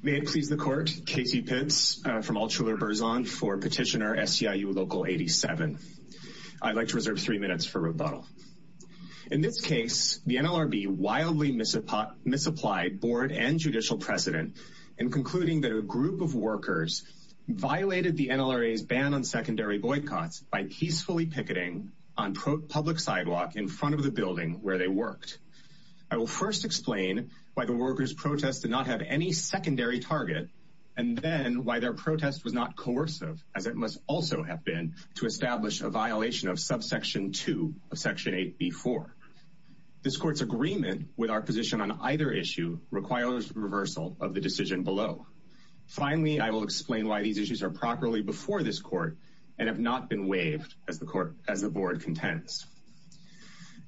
May it please the court, Casey Pitts from Altshuler-Berzon for petitioner SCIU Local 87. I'd like to reserve three minutes for rebuttal. In this case, the NLRB wildly misapplied board and judicial precedent in concluding that a group of workers violated the NLRA's ban on secondary boycotts by peacefully picketing on public sidewalk in front of the building where they worked. I will first explain why the workers' protests did not have any secondary target and then why their protest was not coercive as it must also have been to establish a violation of subsection 2 of section 8b-4. This court's agreement with our position on either issue requires reversal of the decision below. Finally, I will explain why these issues are properly before this court and have not been waived as the board contends.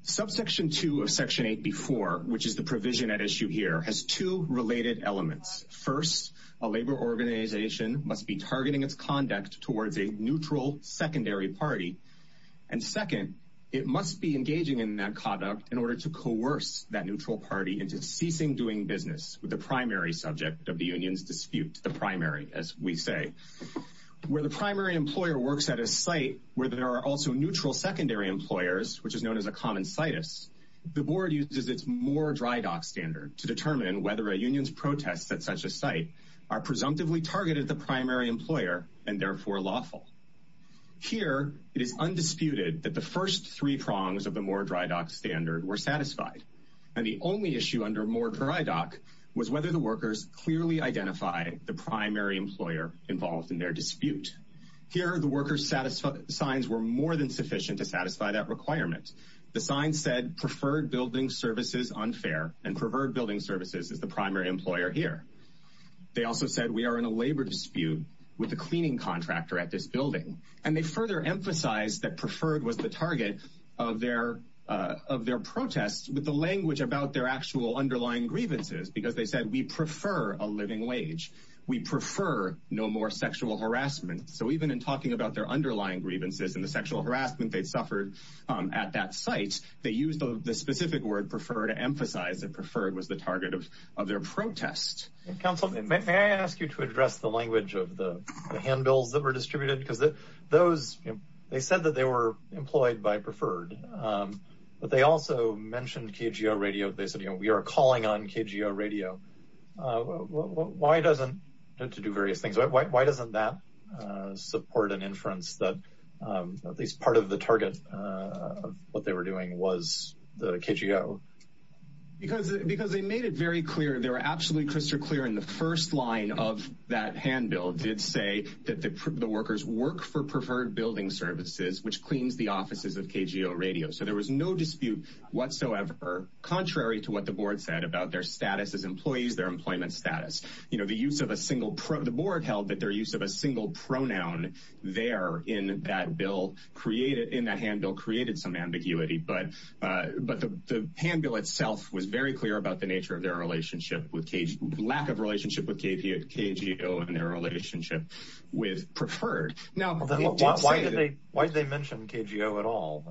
Subsection 2 of section 8b-4, which is the provision at issue here, has two related elements. First, a labor organization must be targeting its conduct towards a neutral secondary party. And second, it must be engaging in that conduct in order to coerce that neutral party into ceasing doing business with the primary subject of the union's dispute. The primary employer works at a site where there are also neutral secondary employers, which is known as a common situs. The board uses its Moor-Drydock standard to determine whether a union's protests at such a site are presumptively targeted the primary employer and therefore lawful. Here, it is undisputed that the first three prongs of the Moor-Drydock standard were satisfied. And the only issue under Moor-Drydock was whether the workers clearly identify the primary employer involved in their dispute. Here, the workers' signs were more than sufficient to satisfy that requirement. The sign said, preferred building services unfair, and preferred building services is the primary employer here. They also said, we are in a labor dispute with the cleaning contractor at this building. And they further emphasized that preferred was the target of their protests with the language about their actual underlying grievances, because they said, we prefer a living wage. We prefer no more sexual harassment. So even in talking about their underlying grievances and the sexual harassment they'd suffered at that site, they used the specific word preferred to emphasize that preferred was the target of their protest. Counsel, may I ask you to address the language of the handbills that were distributed? Because they said that they were employed by preferred, but they also mentioned KGO Radio. They said, we are calling on KGO Radio. Why doesn't, to do various things, why doesn't that support an inference that at least part of the target of what they were doing was the KGO? Because they made it very clear, they were absolutely crystal clear in the first line of that handbill did say that the workers work for preferred building services, which cleans the offices of KGO Radio. So there was no dispute whatsoever, contrary to what the board said about their status as employees, their employment status. The board held that their use of a single pronoun there in that handbill created some ambiguity, but the handbill itself was very clear about the nature of their relationship, lack of relationship with KGO and their relationship with preferred. Now, why did they mention KGO at all?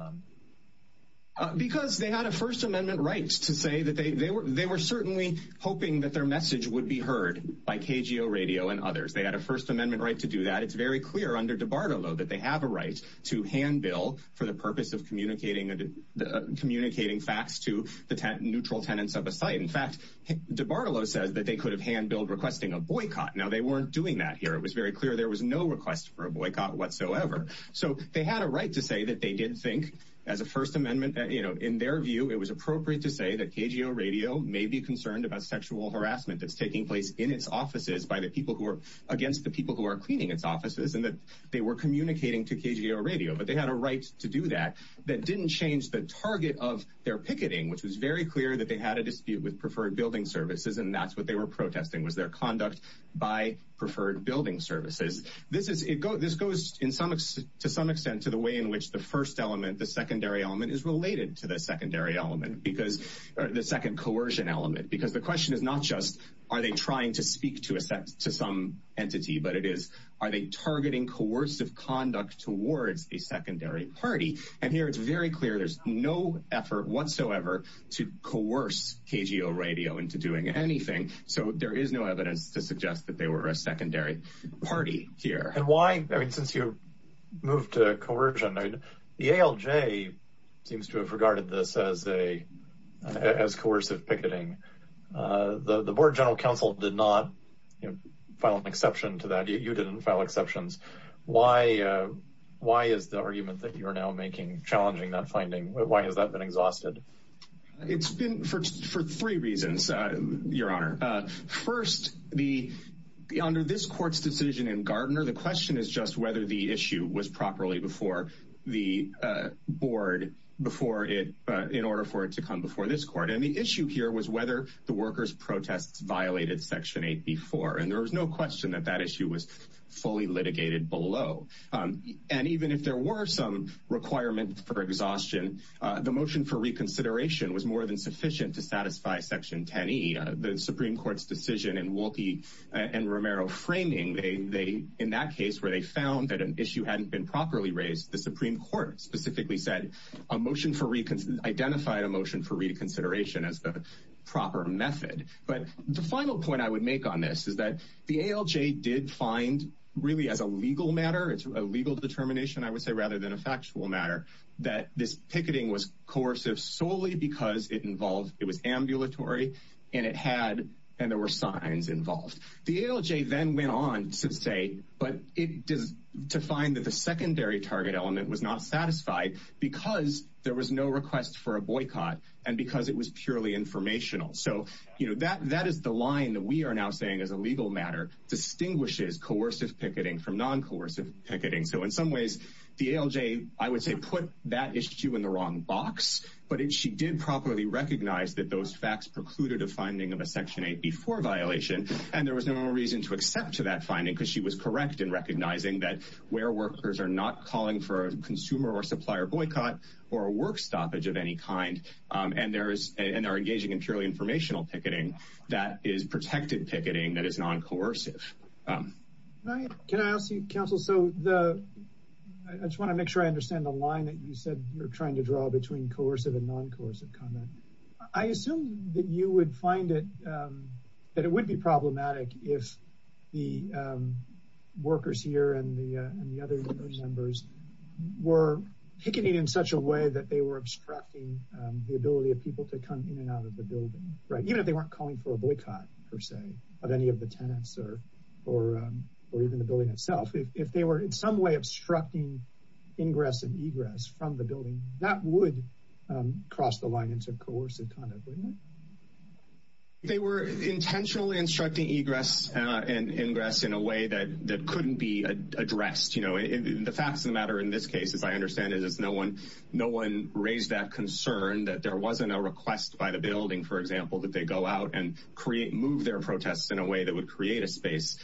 Because they had a First Amendment right to say that they were certainly hoping that their message would be heard by KGO Radio and others. They had a First Amendment right to do that. It's very clear under DiBartolo that they have a right to handbill for the purpose of communicating facts to the neutral tenants of a site. In fact, DiBartolo says that they could have handbilled requesting a boycott. Now, they weren't doing that here. It was very clear there was no request for a boycott whatsoever. So they had a right to say that they did think as a First Amendment, you know, in their view, it was appropriate to say that KGO Radio may be concerned about sexual harassment that's taking place in its offices by the people who are against the people who are cleaning its offices and that they were communicating to KGO Radio. But they had a right to do that that didn't change the target of their picketing, which was very clear that they had a dispute with preferred building services, and that's what they were protesting was their conduct by preferred building services. This goes to some extent to the way in which the first element, the secondary element, is related to the secondary element, because the second coercion element, because the question is not just are they trying to speak to some entity, but it is are they targeting coercive conduct towards a secondary party. And here it's very clear there's no effort whatsoever to coerce KGO Radio into doing anything so there is no evidence to suggest that they were a secondary party here. And why, I mean, since you moved to coercion, I mean, the ALJ seems to have regarded this as coercive picketing. The Board of General Counsel did not file an exception to that. You didn't file exceptions. Why is the argument that you are now making challenging that finding? Why has that been First, under this court's decision in Gardner, the question is just whether the issue was properly before the board in order for it to come before this court. And the issue here was whether the workers' protests violated Section 8 before, and there was no question that that issue was fully litigated below. And even if there were some requirement for exhaustion, the motion for court's decision in Wolpe and Romero framing, they, in that case where they found that an issue hadn't been properly raised, the Supreme Court specifically said a motion for, identified a motion for reconsideration as the proper method. But the final point I would make on this is that the ALJ did find really as a legal matter, it's a legal determination I would say rather than a factual matter, that this picketing was coercive solely because it involved, it was ambulatory and it had, and there were signs involved. The ALJ then went on to say, but it does, to find that the secondary target element was not satisfied because there was no request for a boycott and because it was purely informational. So, you know, that, that is the line that we are now saying as a legal matter, distinguishes coercive picketing from non-coercive picketing. So in some ways, the ALJ, I would say put that issue in the wrong box, but if she did properly recognize that those facts precluded a finding of a Section 8B4 violation, and there was no more reason to accept to that finding because she was correct in recognizing that where workers are not calling for a consumer or supplier boycott or a work stoppage of any kind, and there is, and are engaging in purely informational picketing, that is protected picketing that is non-coercive. Can I ask you, counsel, so the, I just want to make sure I understand the line that you said you're trying to draw between coercive and non-coercive conduct. I assume that you would find it, that it would be problematic if the workers here and the, and the other union members were picketing in such a way that they were obstructing the ability of people to come in and out of the building, right? Even if they weren't calling for a boycott per se of any of the tenants or, or, or even the building itself, if they were in some way obstructing ingress and that would cross the line into coercive conduct, wouldn't it? They were intentionally obstructing egress and ingress in a way that, that couldn't be addressed. You know, the facts of the matter in this case, as I understand it, is no one, no one raised that concern that there wasn't a request by the building, for example, that they go out and create, move their protests in a way that would create a space.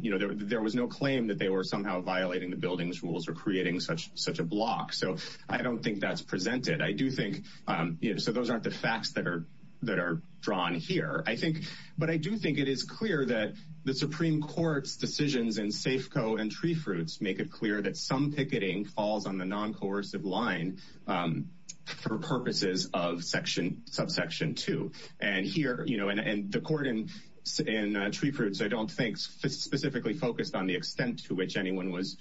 You know, there was no claim that they were somehow violating the building's rules or creating such, such a block. So I don't think that's presented. I do think, you know, so those aren't the facts that are, that are drawn here, I think, but I do think it is clear that the Supreme Court's decisions in Safeco and TreeFruits make it clear that some picketing falls on the non-coercive line for purposes of section, subsection two. And here, you know, and the court in, in TreeFruits, I don't specifically focused on the extent to which anyone was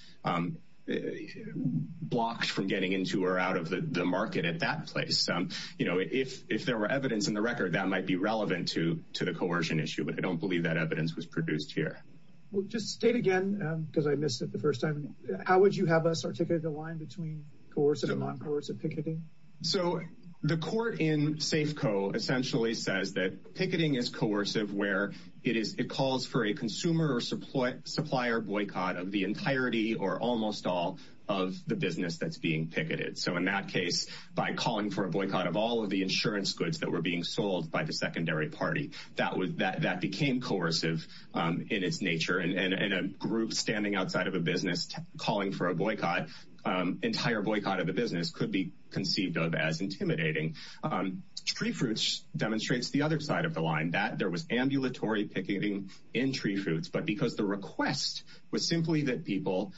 blocked from getting into or out of the market at that place. You know, if, if there were evidence in the record, that might be relevant to, to the coercion issue, but I don't believe that evidence was produced here. Well, just state again, because I missed it the first time, how would you have us articulate the line between coercive and non-coercive picketing? So the court in Safeco essentially says that picketing is coercive where it is, it calls for a consumer or supply, supplier boycott of the entirety or almost all of the business that's being picketed. So in that case, by calling for a boycott of all of the insurance goods that were being sold by the secondary party, that was, that, that became coercive in its nature and, and a group standing outside of a business calling for a boycott, entire boycott of the business could be conceived of as intimidating. Tree fruits demonstrates the other side of the line that there was ambulatory picketing in tree fruits, but because the request was simply that people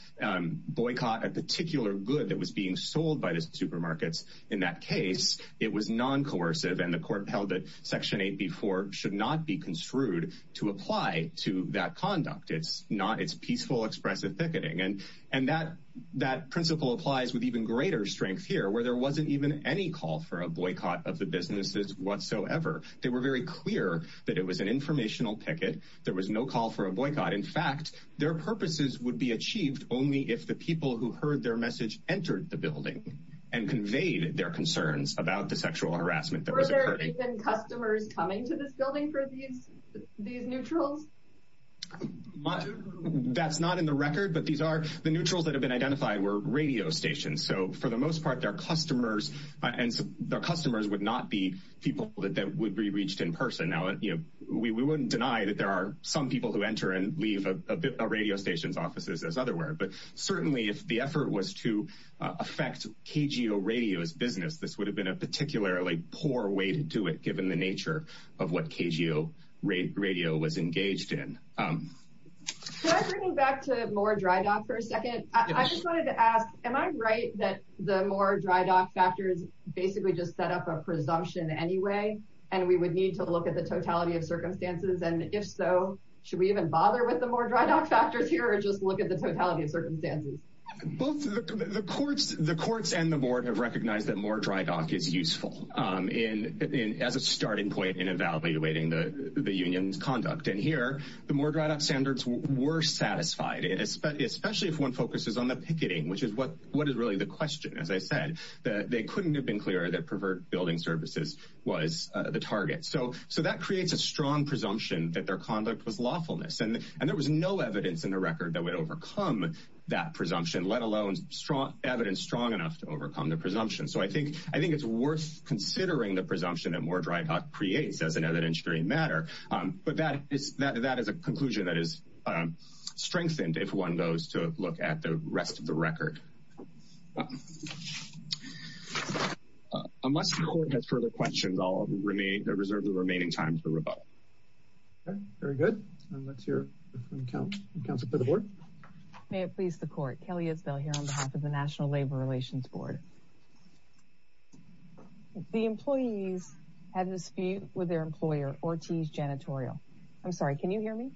boycott a particular good that was being sold by the supermarkets. In that case, it was non-coercive and the court held that section eight before should not be construed to apply to that conduct. It's not, it's peaceful, expressive picketing. And, and that, that principle applies with even greater strength here, where there wasn't even any call for a boycott of the businesses whatsoever. They were very clear that it was an informational picket. There was no call for a boycott. In fact, their purposes would be achieved only if the people who heard their message entered the building and conveyed their concerns about the sexual harassment that was occurring. Customers coming to this building for these, these neutrals. That's not in the record, but these are the neutrals that have been and their customers would not be people that would be reached in person. Now, you know, we wouldn't deny that there are some people who enter and leave a radio station's offices as otherwise, but certainly if the effort was to affect KGO radio's business, this would have been a particularly poor way to do it, given the nature of what KGO radio was engaged in. Can I bring you back to Moore Dry Dock for a second? I just wanted to ask, am I right that the Moore Dry Dock factors basically just set up a presumption anyway, and we would need to look at the totality of circumstances? And if so, should we even bother with the Moore Dry Dock factors here or just look at the totality of circumstances? Both the courts and the board have recognized that Moore Dry Dock is useful as a starting point in evaluating the union's conduct. And here, the Moore Dry Dock standards were satisfied, especially if one focuses on the question, as I said, that they couldn't have been clearer that pervert building services was the target. So that creates a strong presumption that their conduct was lawfulness, and there was no evidence in the record that would overcome that presumption, let alone strong evidence strong enough to overcome the presumption. So I think it's worth considering the presumption that Moore Dry Dock creates as an evidentiary matter, but that is a conclusion that is strengthened if one goes to look at the rest of the record. Unless the court has further questions, I'll reserve the remaining time for rebuttal. Okay, very good. Let's hear from counsel for the board. May it please the court. Kelly Isbell here on behalf of the National Labor Relations Board. The employees had a dispute with their employer, Ortiz Janitorial. I'm sorry, can you hear me?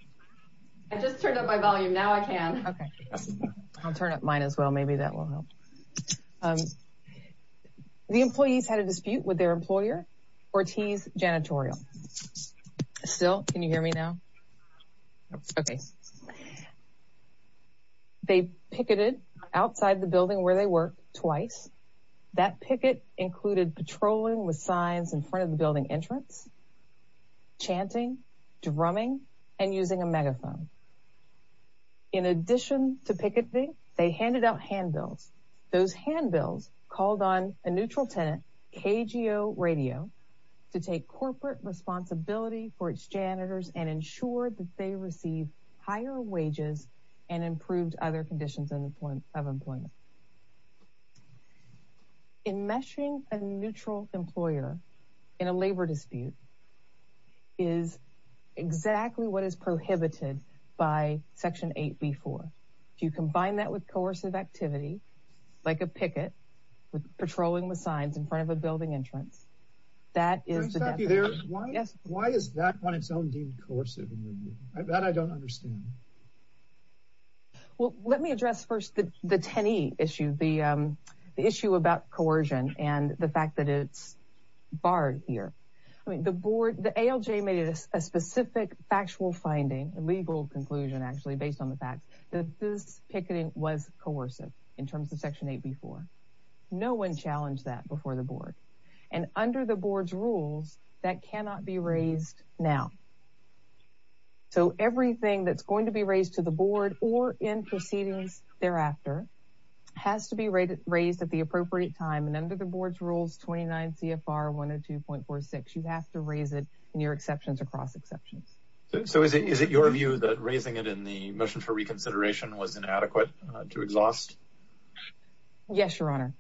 I just turned up my volume. Now I can. Okay, I'll turn up mine as well. Maybe that will help. The employees had a dispute with their employer, Ortiz Janitorial. Still, can you hear me now? Okay. They picketed outside the building where they work twice. That picket included patrolling with them. In addition to picketing, they handed out handbills. Those handbills called on a neutral tenant, KGO Radio, to take corporate responsibility for its janitors and ensure that they receive higher wages and improved other conditions of employment. In meshing a neutral employer in a labor dispute is exactly what is prohibited by Section 8b-4. If you combine that with coercive activity, like a picket, with patrolling with signs in front of a building entrance, that is the definition. Why is that on its own deemed coercive? That I don't understand. Well, let me address first the 10e issue, the issue about coercion and the fact that it's barred here. I mean, the board, the ALJ made a specific factual finding, a legal conclusion actually, based on the fact that this picketing was coercive in terms of Section 8b-4. No one challenged that before the board. And under the board's rules, that cannot be raised now. So everything that's going to be raised to the board or in proceedings thereafter has to be raised at the appropriate time. And under the board's rules, 29 CFR 102.46, you have to raise it in your exceptions or cross exceptions. So is it your view that raising it in the motion for reconsideration was inadequate to exhaust? Yes, your honor.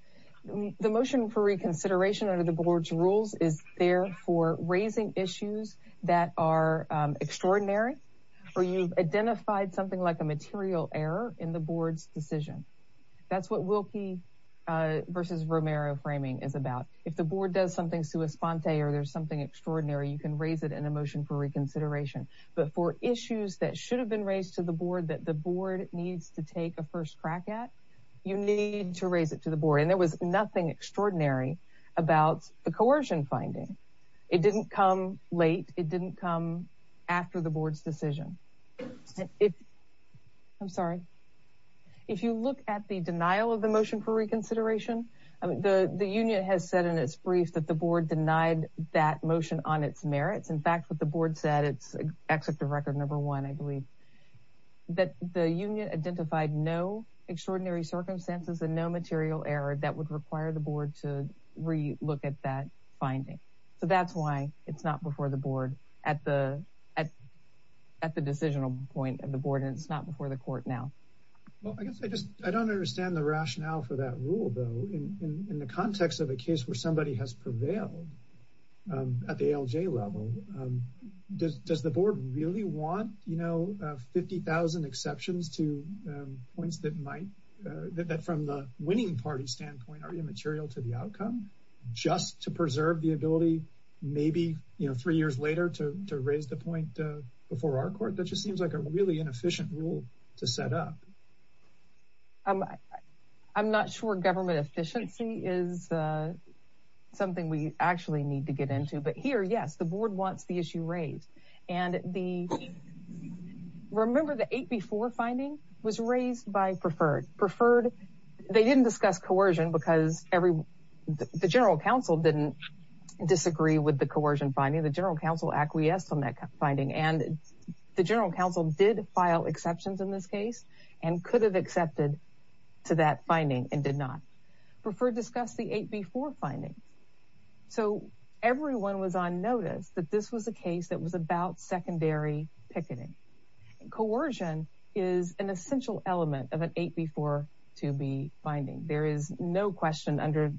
The motion for reconsideration under the board's rules is there for raising issues that are extraordinary, or you've identified something like a material error in the board's decision. That's what Wilkie versus Romero framing is about. If the board does something sua sponte or there's something extraordinary, you can raise it in a motion for reconsideration. But for issues that should have been raised to the board that the board needs to take a first crack at, you need to raise it to the board. And there was nothing extraordinary about the coercion finding. It didn't come late. It didn't come after the board's decision. I'm sorry. If you look at the denial of the motion for reconsideration, the union has said in its brief that the board denied that motion on its merits. In fact, what the board said, it's executive record number one, I believe, that the union identified no extraordinary circumstances and no material error that would require the board to re-look at that finding. So that's why it's not before the board at the decisional point of the board, and it's not before the court now. Well, I guess I just, I don't understand the rationale for that rule, though. In the context of a case where somebody has prevailed at the ALJ level, does the board really want, you know, points that might, that from the winning party standpoint are immaterial to the outcome, just to preserve the ability maybe, you know, three years later to raise the point before our court? That just seems like a really inefficient rule to set up. I'm not sure government efficiency is something we actually need to get into, but here, yes, board wants the issue raised. And the, remember the eight before finding was raised by preferred. Preferred, they didn't discuss coercion because every, the general counsel didn't disagree with the coercion finding. The general counsel acquiesced on that finding, and the general counsel did file exceptions in this case and could have accepted to that finding and did not. Preferred discussed the eight before finding. So everyone was on notice that this was a case that was about secondary picketing. Coercion is an essential element of an eight before to be finding. There is no question under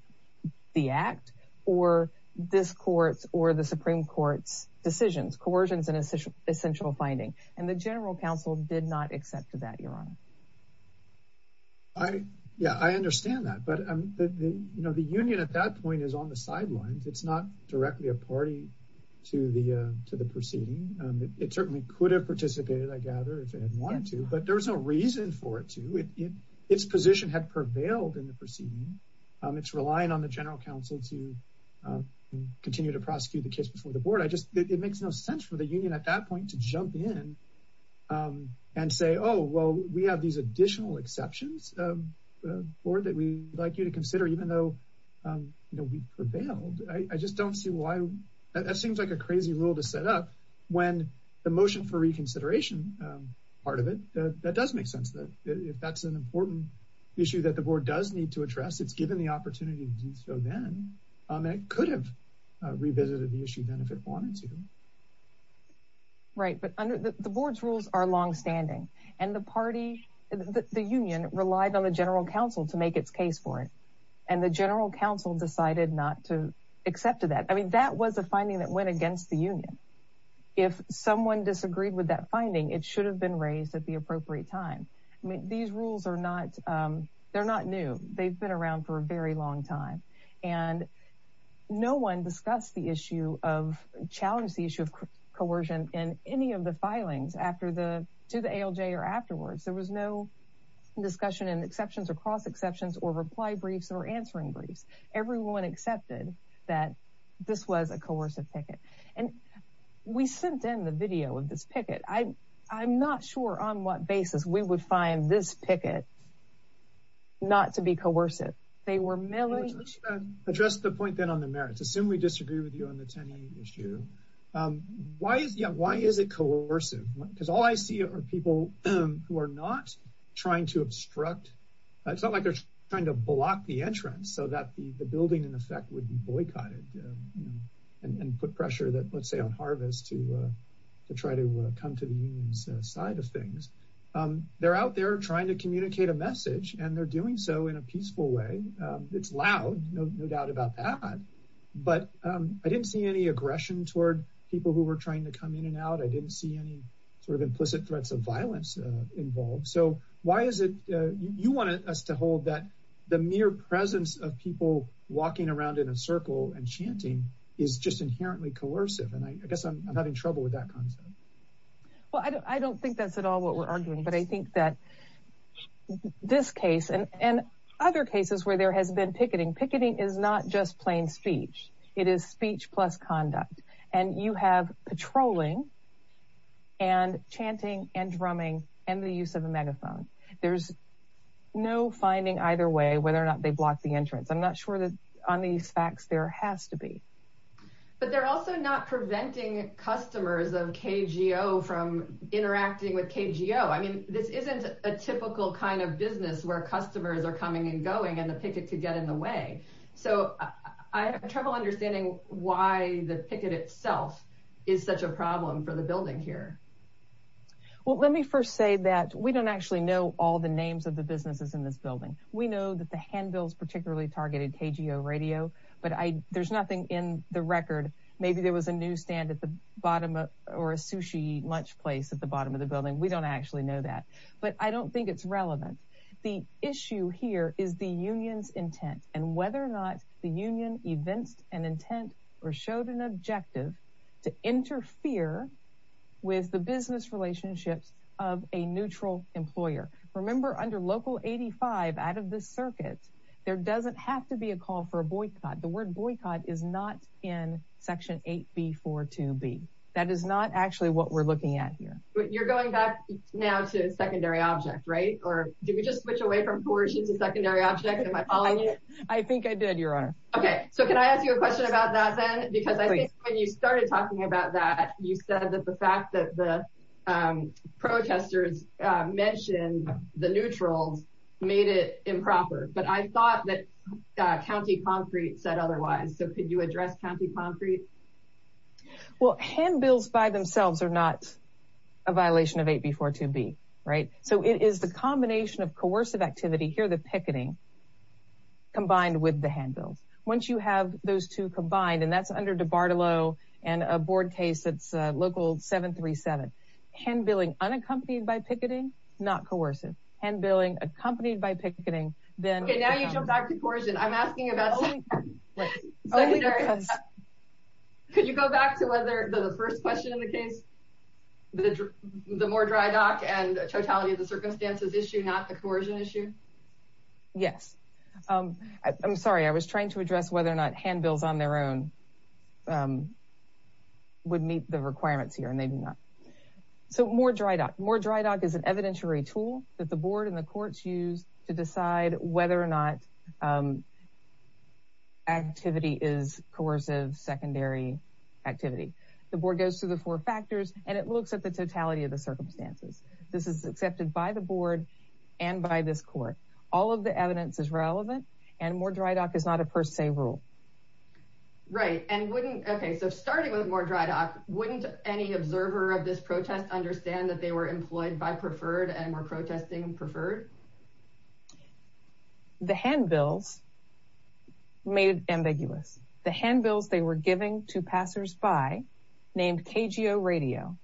the act or this court's or the Supreme Court's decisions. Coercion is an essential finding, and the general counsel did not accept to that, Your Honor. I, yeah, I understand that. But, you know, the union at that point is on the sidelines. It's not directly a party to the proceeding. It certainly could have participated, I gather, if it had wanted to, but there was no reason for it to. Its position had prevailed in the proceeding. It's relying on the general counsel to continue to prosecute the case before the board. It makes no sense for the union at that point to jump in and say, oh, well, we have these additional exceptions, board, that we'd like you to consider, even though, you know, we prevailed. I just don't see why. That seems like a crazy rule to set up when the motion for reconsideration part of it, that does make sense. If that's an important issue that the board does need to address, it's given the opportunity to do so then. It could have revisited the issue then if it wanted to. Right, but the board's rules are long-standing, and the party, the union relied on the general counsel to make its case for it, and the general counsel decided not to accept to that. I mean, that was a finding that went against the union. If someone disagreed with that finding, it should have been raised at the appropriate time. I mean, these rules are not, they're not new. They've been around for a very long time, and no one discussed the issue of, challenged the issue of coercion in any of the filings after the, to the ALJ or afterwards. There was no discussion in exceptions or cross exceptions or reply briefs or answering briefs. Everyone accepted that this was a coercive picket, and we sent in the video of this picket. I'm not sure on what basis we would find this picket not to be coercive. They were merely... Let's address the point then on the merits. Assume we disagree with you on the Tenney issue. Why is, yeah, why is it coercive? Because all I see are people who are not trying to obstruct, it's not like they're trying to block the entrance so that the building, in effect, would be boycotted, you know, and put pressure that, let's say, on Harvest to try to come to the union's side of things. They're out there trying to communicate a message, and they're doing so in a peaceful way. It's loud, no doubt about that, but I didn't see any aggression toward people who were trying to come in and out. I didn't see any sort of implicit threats of violence involved. So why is it, you wanted us to hold that the mere presence of people walking around in a circle and chanting is just inherently coercive, and I guess I'm having trouble with that concept. Well, I don't think that's at all what we're arguing, but I think that this case, and other cases where there has been picketing, picketing is not just plain speech. It is speech plus conduct, and you have patrolling and chanting and drumming and the use of a megaphone. There's no finding either way whether or not they blocked the entrance. I'm not sure on these facts there has to be. But they're also not preventing customers of KGO from interacting with KGO. I mean, this isn't a typical kind of business where customers are coming and going and the picket could get in the way. So I have trouble understanding why the picket itself is such a problem for the building here. Well, let me first say that we don't actually know all the names of the businesses in this building. We know that Handbills particularly targeted KGO Radio, but there's nothing in the record. Maybe there was a newsstand at the bottom or a sushi lunch place at the bottom of the building. We don't actually know that, but I don't think it's relevant. The issue here is the union's intent and whether or not the union evinced an intent or showed an objective to interfere with the business There doesn't have to be a call for a boycott. The word boycott is not in Section 8B42B. That is not actually what we're looking at here. But you're going back now to secondary object, right? Or did we just switch away from coercion to secondary object? Am I following you? I think I did, Your Honor. Okay, so can I ask you a question about that then? Because I think when you started talking about that, you said that the fact that the made it improper, but I thought that County Concrete said otherwise. So could you address County Concrete? Well, handbills by themselves are not a violation of 8B42B, right? So it is the combination of coercive activity, here the picketing, combined with the handbills. Once you have those two combined, and that's under DiBartolo and a board case that's Local 737, handbilling unaccompanied by picketing, not coercive. Handbilling accompanied by picketing, then... Okay, now you jump back to coercion. I'm asking about... Could you go back to whether the first question in the case, the more dry dock and totality of the circumstances issue, not the coercion issue? Yes. I'm sorry, I was trying to address whether or not handbills on their own would meet the requirements here, and they do not. So more dry dock. More dry dock is an evidentiary tool that the board and the courts use to decide whether or not activity is coercive secondary activity. The board goes through the four factors, and it looks at the totality of the circumstances. This is accepted by the board and by this court. All of the evidence is relevant, and more dry dock is not a per se rule. Right, and wouldn't... Okay, so starting with more dry dock, wouldn't any observer of this protest understand that they were employed by Preferred and were protesting Preferred? The handbills made it ambiguous. The handbills they were giving to passers-by named KGO Radio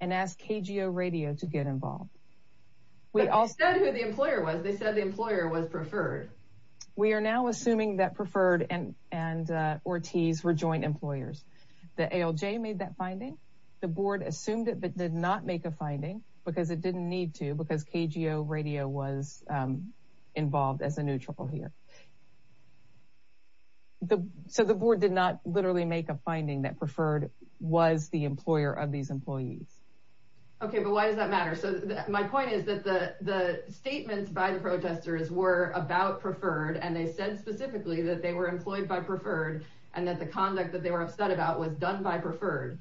and asked KGO Radio to get involved. They said who the employer was. They said the employer was Preferred. We are now assuming that Preferred and Ortiz were joint employers. The ALJ made that finding. The board assumed it but did not make a finding because it didn't need to because KGO Radio was involved as a neutral here. So the board did not literally make a finding that Preferred was the employer of these employees. Okay, but why does that matter? So my point is that the statements by the protesters were about Preferred, and they said specifically that they were employed by Preferred, and that the conduct that they were upset about was done by Preferred.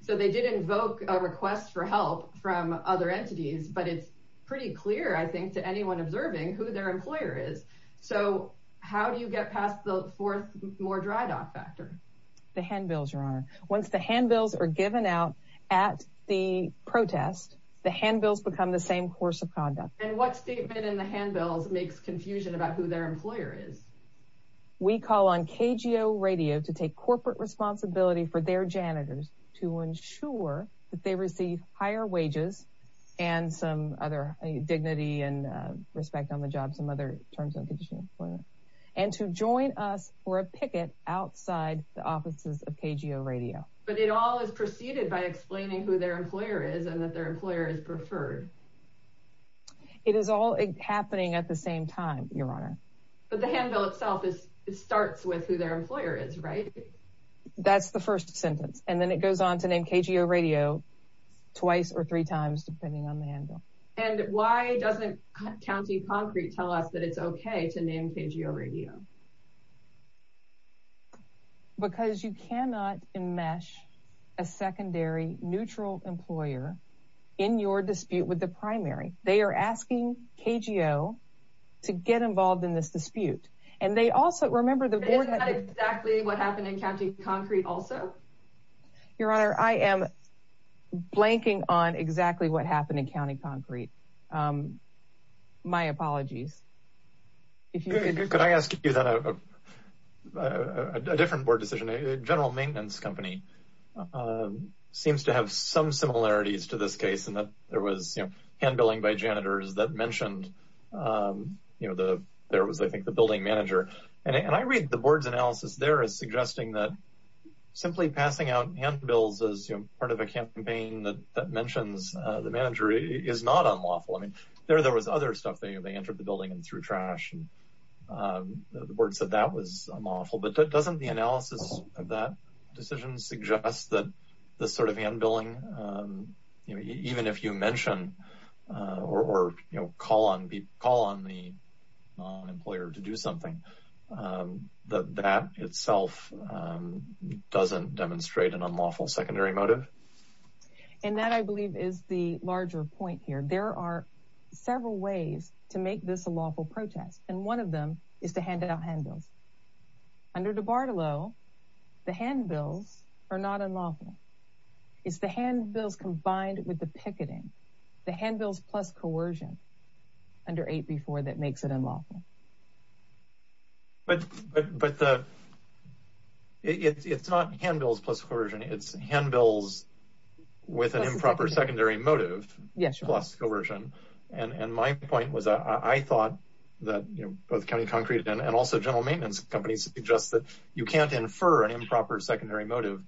So they did invoke a request for help from other entities, but it's pretty clear, I think, to anyone observing who their employer is. So how do you get past the fourth more dry dock factor? The handbills, once the handbills are given out at the protest, the handbills become the same course of conduct. And what statement in the handbills makes confusion about who their employer is? We call on KGO Radio to take corporate responsibility for their janitors to ensure that they receive higher wages and some other dignity and respect on the job, other terms and conditions, and to join us for a picket outside the offices of KGO Radio. But it all is preceded by explaining who their employer is and that their employer is Preferred. It is all happening at the same time, Your Honor. But the handbill itself starts with who their employer is, right? That's the first sentence, and then it goes on to name KGO Radio twice or three times, depending on the handbill. And why doesn't County Concrete tell us that it's okay to name KGO Radio? Because you cannot enmesh a secondary neutral employer in your dispute with the primary. They are asking KGO to get involved in this dispute. And they also, remember, But isn't that exactly what happened in County Concrete also? Your Honor, I am blanking on exactly what happened in County Concrete. My apologies. Could I ask you a different board decision? General Maintenance Company seems to have some similarities to this case in that there was handbilling by janitors that mentioned, you know, there was, I think, the building manager. And I read the board's analysis there as suggesting that simply passing out handbills as, you know, part of a campaign that mentions the manager is not unlawful. I mean, there was other stuff. They entered the building and threw trash, and the board said that was unlawful. But doesn't the analysis of that decision suggest that this sort of handbilling, you know, even if you mention or, you know, call on the non-employer to do something, that that itself doesn't demonstrate an unlawful secondary motive? And that, I believe, is the larger point here. There are several ways to make this a lawful protest, and one of them is to hand out handbills. Under DiBartolo, the handbills are not unlawful. It's the handbills combined with the picketing, the handbills plus coercion under 8B4 that makes it unlawful. But it's not handbills plus coercion. It's handbills with an improper secondary motive plus coercion. And my point was, I thought that, you know, both County Concrete and also general maintenance companies suggest that you can't infer an improper secondary motive,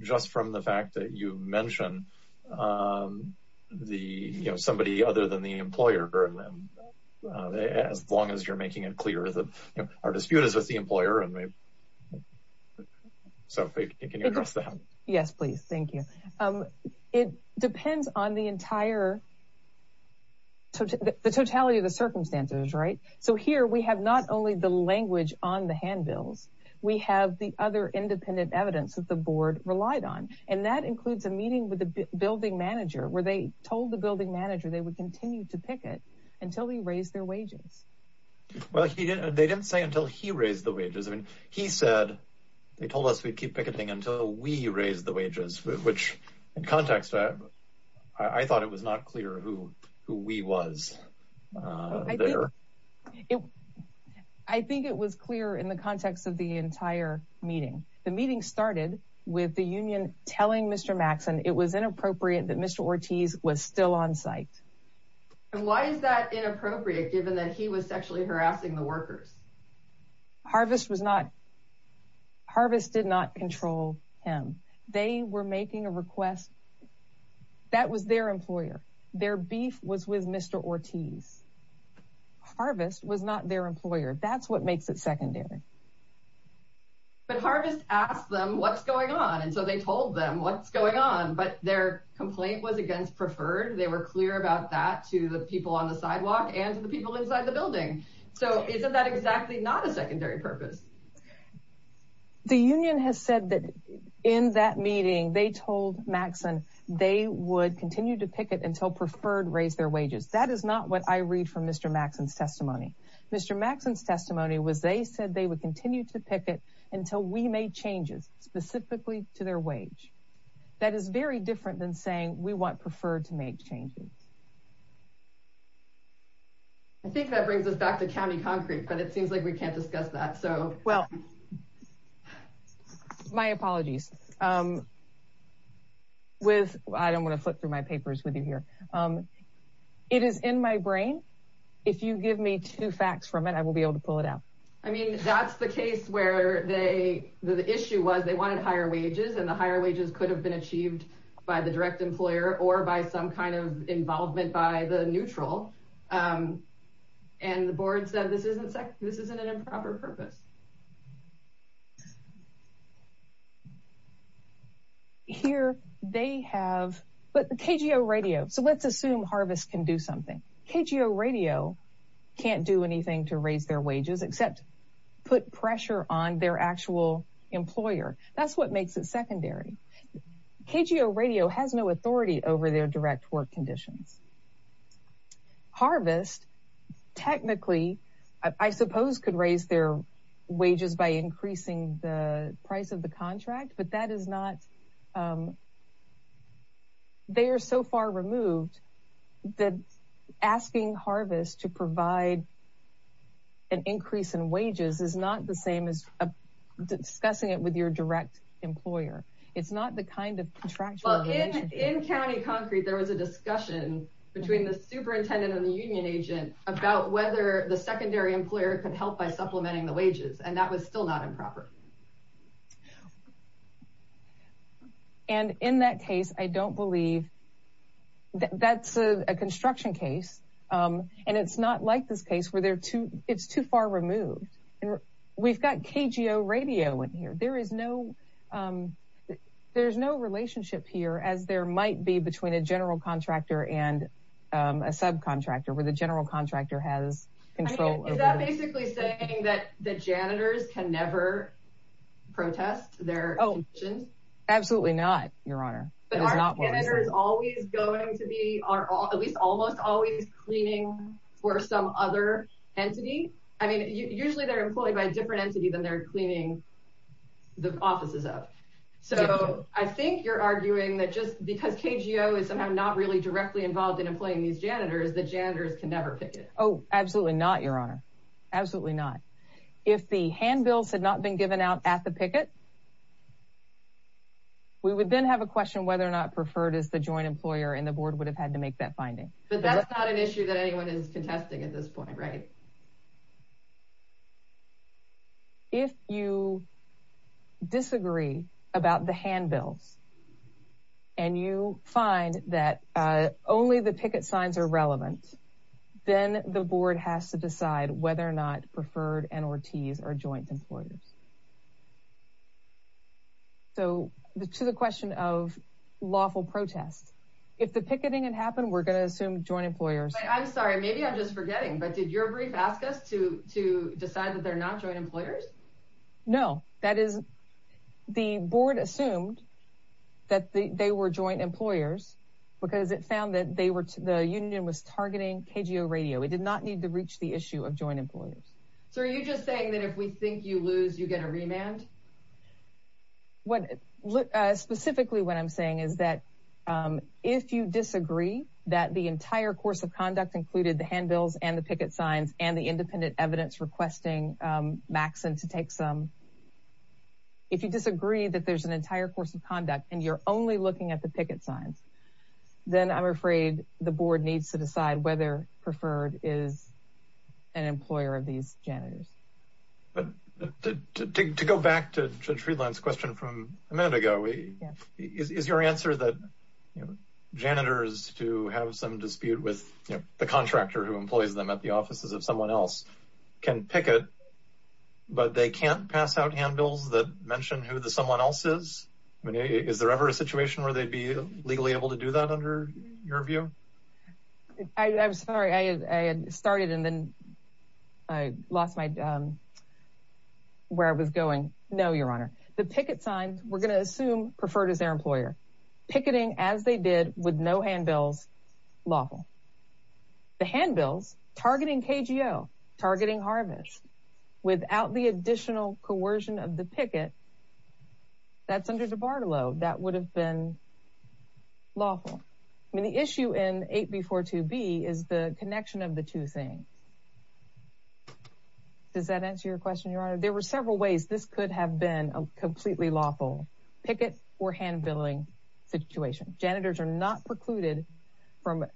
just from the fact that you mention the, you know, somebody other than the employer, as long as you're making it clear that our dispute is with the employer. So can you address that? Yes, please. Thank you. It depends on the entire, the totality of the circumstances, right? So here we have not only the language on the handbills, we have the other independent evidence that the board relied on, and that includes a meeting with the building manager, where they told the building manager they would continue to picket until they raised their wages. Well, they didn't say until he raised the wages. I mean, he said, they told us we'd keep picketing until we raised the wages, which in context, I thought it was not clear who we was there. I think it was clear in the context of the entire meeting. The meeting started with the union telling Mr. Maxson it was inappropriate that Mr. Ortiz was still on site. And why is that inappropriate, given that he was sexually harassing the workers? Harvest was not, Harvest did not control him. They were making a request that was their employer. Their beef was with Mr. Ortiz. Harvest was not their employer. That's what makes it secondary. But Harvest asked them what's going on. And so they told them what's going on, but their complaint was against preferred. They were clear about that to the people on the sidewalk and to the people inside the building. So isn't that exactly not a secondary purpose? The union has said that in that meeting, they told Maxson they would continue to picket until preferred raised their wages. That is not what I read from Mr. Maxson's testimony. Mr. Maxson's testimony was they said they would continue to picket until we made changes specifically to their wage. That is very different than saying we want preferred to make changes. I think that brings us back to county concrete, but it seems like we can't discuss that. So, well, my apologies. With I don't want to flip through my papers with you here. It is in my brain. If you give me two facts from it, I will be able to pull it out. I mean, that's the case where they the issue was they wanted higher wages and the higher wages could have been achieved by the direct employer or by some kind of involvement. By the neutral and the board said this isn't this isn't an improper purpose. Here they have the radio. So let's assume Harvest can do something. KGO radio can't do anything to raise their wages except put pressure on their actual employer. That's what makes it secondary. KGO radio has no authority over their direct work conditions. Harvest technically, I suppose, could raise their wages by increasing the price of the contract. But that is not. They are so far removed that asking Harvest to provide an increase in wages is not the same as discussing it with your direct employer. It's not the kind of contract. In county concrete, there was a discussion between the superintendent and the union agent about whether the secondary employer could help by supplementing the wages. And that was still not improper. And in that case, I don't believe that's a construction case. And it's not like this case where they're too it's too far removed. And we've got KGO radio in here. There is no there's no relationship here, as there might be between a general contractor and a subcontractor where the general contractor has control. Is that basically saying that the janitors can never protest their conditions? Absolutely not, Your Honor. But aren't janitors always going to be, at least almost always, cleaning for some other entity? I mean, usually they're employed by a different entity than they're cleaning the offices of. So I think you're arguing that just because KGO is somehow not really directly involved in employing these janitors, the janitors can never picket. Oh, absolutely not, Your Honor. Absolutely not. If the handbills had not been given out at the picket, we would then have a question whether or not preferred is the joint employer and the board would have had to make that finding. But that's not an issue that anyone is contesting at this point, right? If you disagree about the handbills and you find that only the picket signs are relevant, then the board has to decide whether or not preferred and or T's are joint employers. So to the question of lawful protest, if the picketing had happened, we're going to assume joint employers. I'm sorry, maybe I'm just forgetting, but did your briefings ask us to decide that they're not joint employers? No, that is the board assumed that they were joint employers because it found that they were the union was targeting KGO radio. It did not need to reach the issue of joint employers. So are you just saying that if we think you lose, you get a remand? What specifically what I'm saying is that if you disagree that the entire course of conduct included the handbills and the picket signs and the independent evidence requesting Maxon to take some. If you disagree that there's an entire course of conduct and you're only looking at the picket signs, then I'm afraid the board needs to decide whether preferred is an employer of these janitors. To go back to Judge Friedland's question from a minute ago, is your answer that janitors to have some dispute with the contractor who employs them at the offices of someone else can picket, but they can't pass out handbills that mention who the someone else is? Is there ever a situation where they'd be legally able to do that under your view? I'm sorry, I had started and then I lost my, where I was going. No, your honor, the picket signs, we're going to assume preferred is their employer. Picketing as they did with no handbills, lawful. The handbills targeting KGO, targeting Harvest, without the additional coercion of the picket, that's under DiBartolo. That would have been lawful. I mean, the issue in 8B42B is the connection of the two things. Does that answer your question, your honor? There were several ways this could have been a completely lawful picket or handbilling situation. Janitors are not precluded from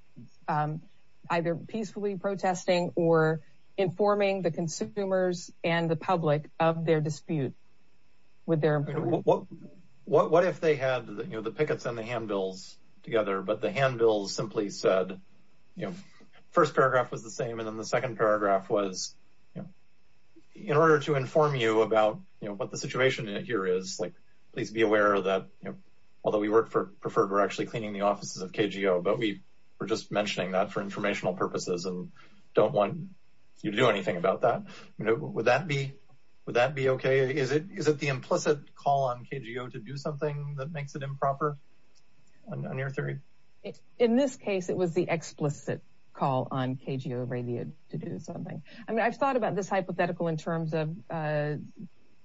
either peacefully protesting or informing the consumers and the public of their dispute with their employer. What if they had the pickets and the handbills together, but the handbills simply said, first paragraph was the same. And then the second paragraph was, in order to inform you about what the situation here is, please be aware that, although we work for preferred, we're actually cleaning the offices of KGO, but we were just mentioning that for informational purposes and don't want you to do anything about that. Would that be okay? Is it the implicit call on KGO to do something that makes it improper, on your theory? In this case, it was the explicit call on KGO radio to do something. I mean, I've thought about this hypothetical in terms of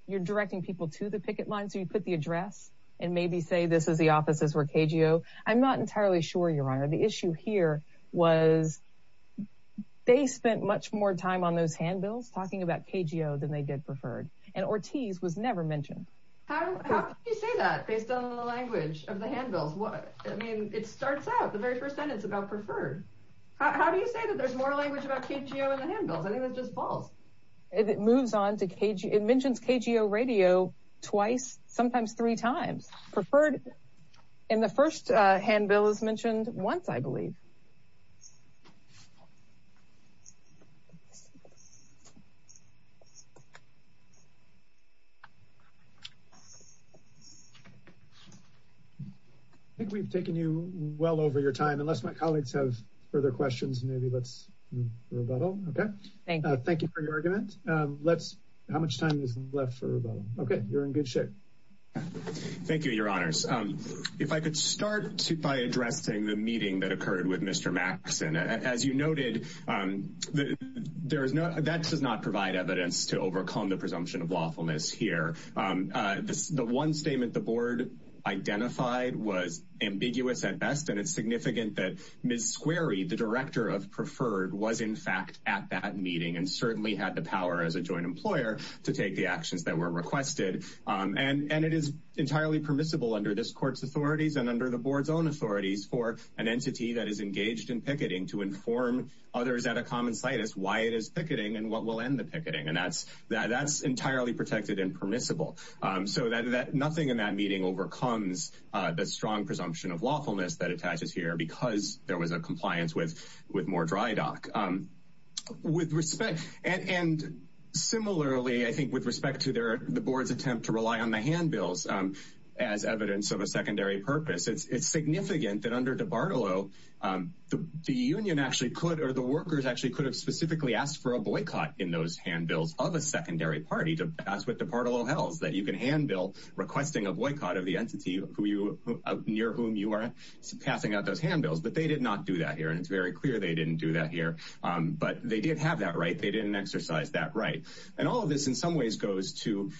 you're directing people to the picket line. So you put the address and maybe say, this is the offices where KGO. I'm not entirely sure, your honor. The issue here was they spent much more time on those handbills talking about KGO than they did preferred and Ortiz was never mentioned. How do you say that based on the language of the handbills? What I mean, it starts out the very first sentence about preferred. How do you say that there's more language about KGO in the handbills? I think that's just false. It moves on to KGO. It mentions KGO radio twice, sometimes three times. Preferred in the first handbill is mentioned once, I believe. I think we've taken you well over your time. Unless my colleagues have further questions, maybe let's rebuttal. Okay, thank you for your argument. How much time is left for rebuttal? Okay, you're in good shape. Thank you, your honors. If I could start by addressing the meeting that occurred with Mr. Maxson. As you noted, that does not provide evidence to overcome the presumption of lawfulness here. The one statement the board identified was ambiguous at best. And it's significant that Ms. Squarey, the director of preferred, was in fact at that joint employer to take the actions that were requested. And it is entirely permissible under this court's authorities and under the board's own authorities for an entity that is engaged in picketing to inform others at a common situs why it is picketing and what will end the picketing. And that's entirely protected and permissible. Nothing in that meeting overcomes the strong presumption of lawfulness that attaches here because there was a compliance with more dry dock. And similarly, I think with respect to the board's attempt to rely on the handbills as evidence of a secondary purpose, it's significant that under DiBartolo, the union actually could or the workers actually could have specifically asked for a boycott in those handbills of a secondary party to pass with DiBartolo Hells that you can handbill requesting a boycott of the entity near whom you are passing out those handbills. But they did not do that here. It's very clear they didn't do that here. But they did have that right. They didn't exercise that right. And all of this in some ways goes to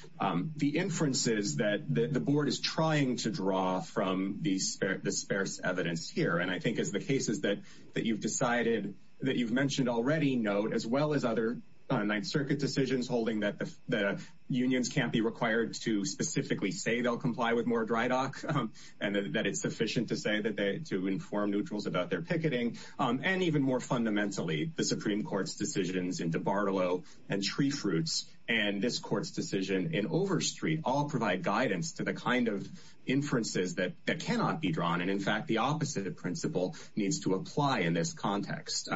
the inferences that the board is trying to draw from the sparse evidence here. And I think as the cases that you've decided that you've mentioned already note, as well as other Ninth Circuit decisions holding that the unions can't be required to specifically say they'll comply with more dry dock and that it's sufficient to say that to inform neutrals about their picketing and even more fundamentally, the Supreme Court's decisions in DiBartolo and Tree Fruits and this court's decision in Overstreet all provide guidance to the kind of inferences that cannot be drawn. And in fact, the opposite principle needs to apply in this context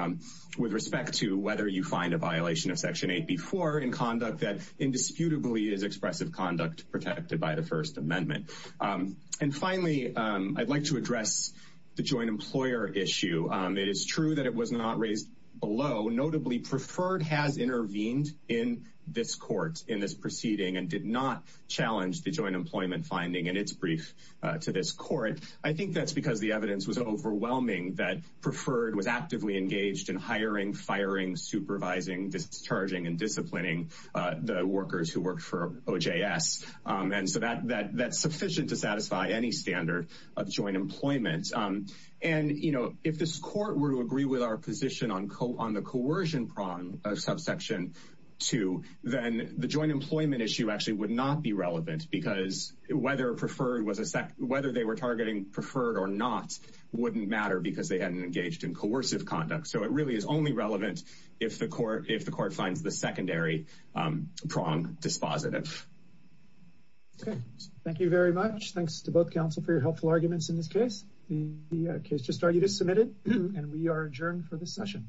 with respect to whether you find a violation of Section 8B4 in conduct that indisputably is expressive conduct protected by the First Amendment. And finally, I'd like to address the joint employer issue. It is true that it was not raised below. Notably, Preferred has intervened in this court in this proceeding and did not challenge the joint employment finding in its brief to this court. I think that's because the evidence was overwhelming that Preferred was actively engaged in hiring, firing, supervising, discharging and disciplining the workers who worked for OJS. And so that's sufficient to satisfy any standard of joint employment. And, you know, if this court were to agree with our position on the coercion prong of Subsection 2, then the joint employment issue actually would not be relevant because whether Preferred was a whether they were targeting Preferred or not wouldn't matter because they hadn't engaged in coercive conduct. So it really is only relevant if the court finds the secondary prong dispositive. Okay, thank you very much. Thanks to both counsel for your helpful arguments in this case. The case just argued is submitted and we are adjourned for this session.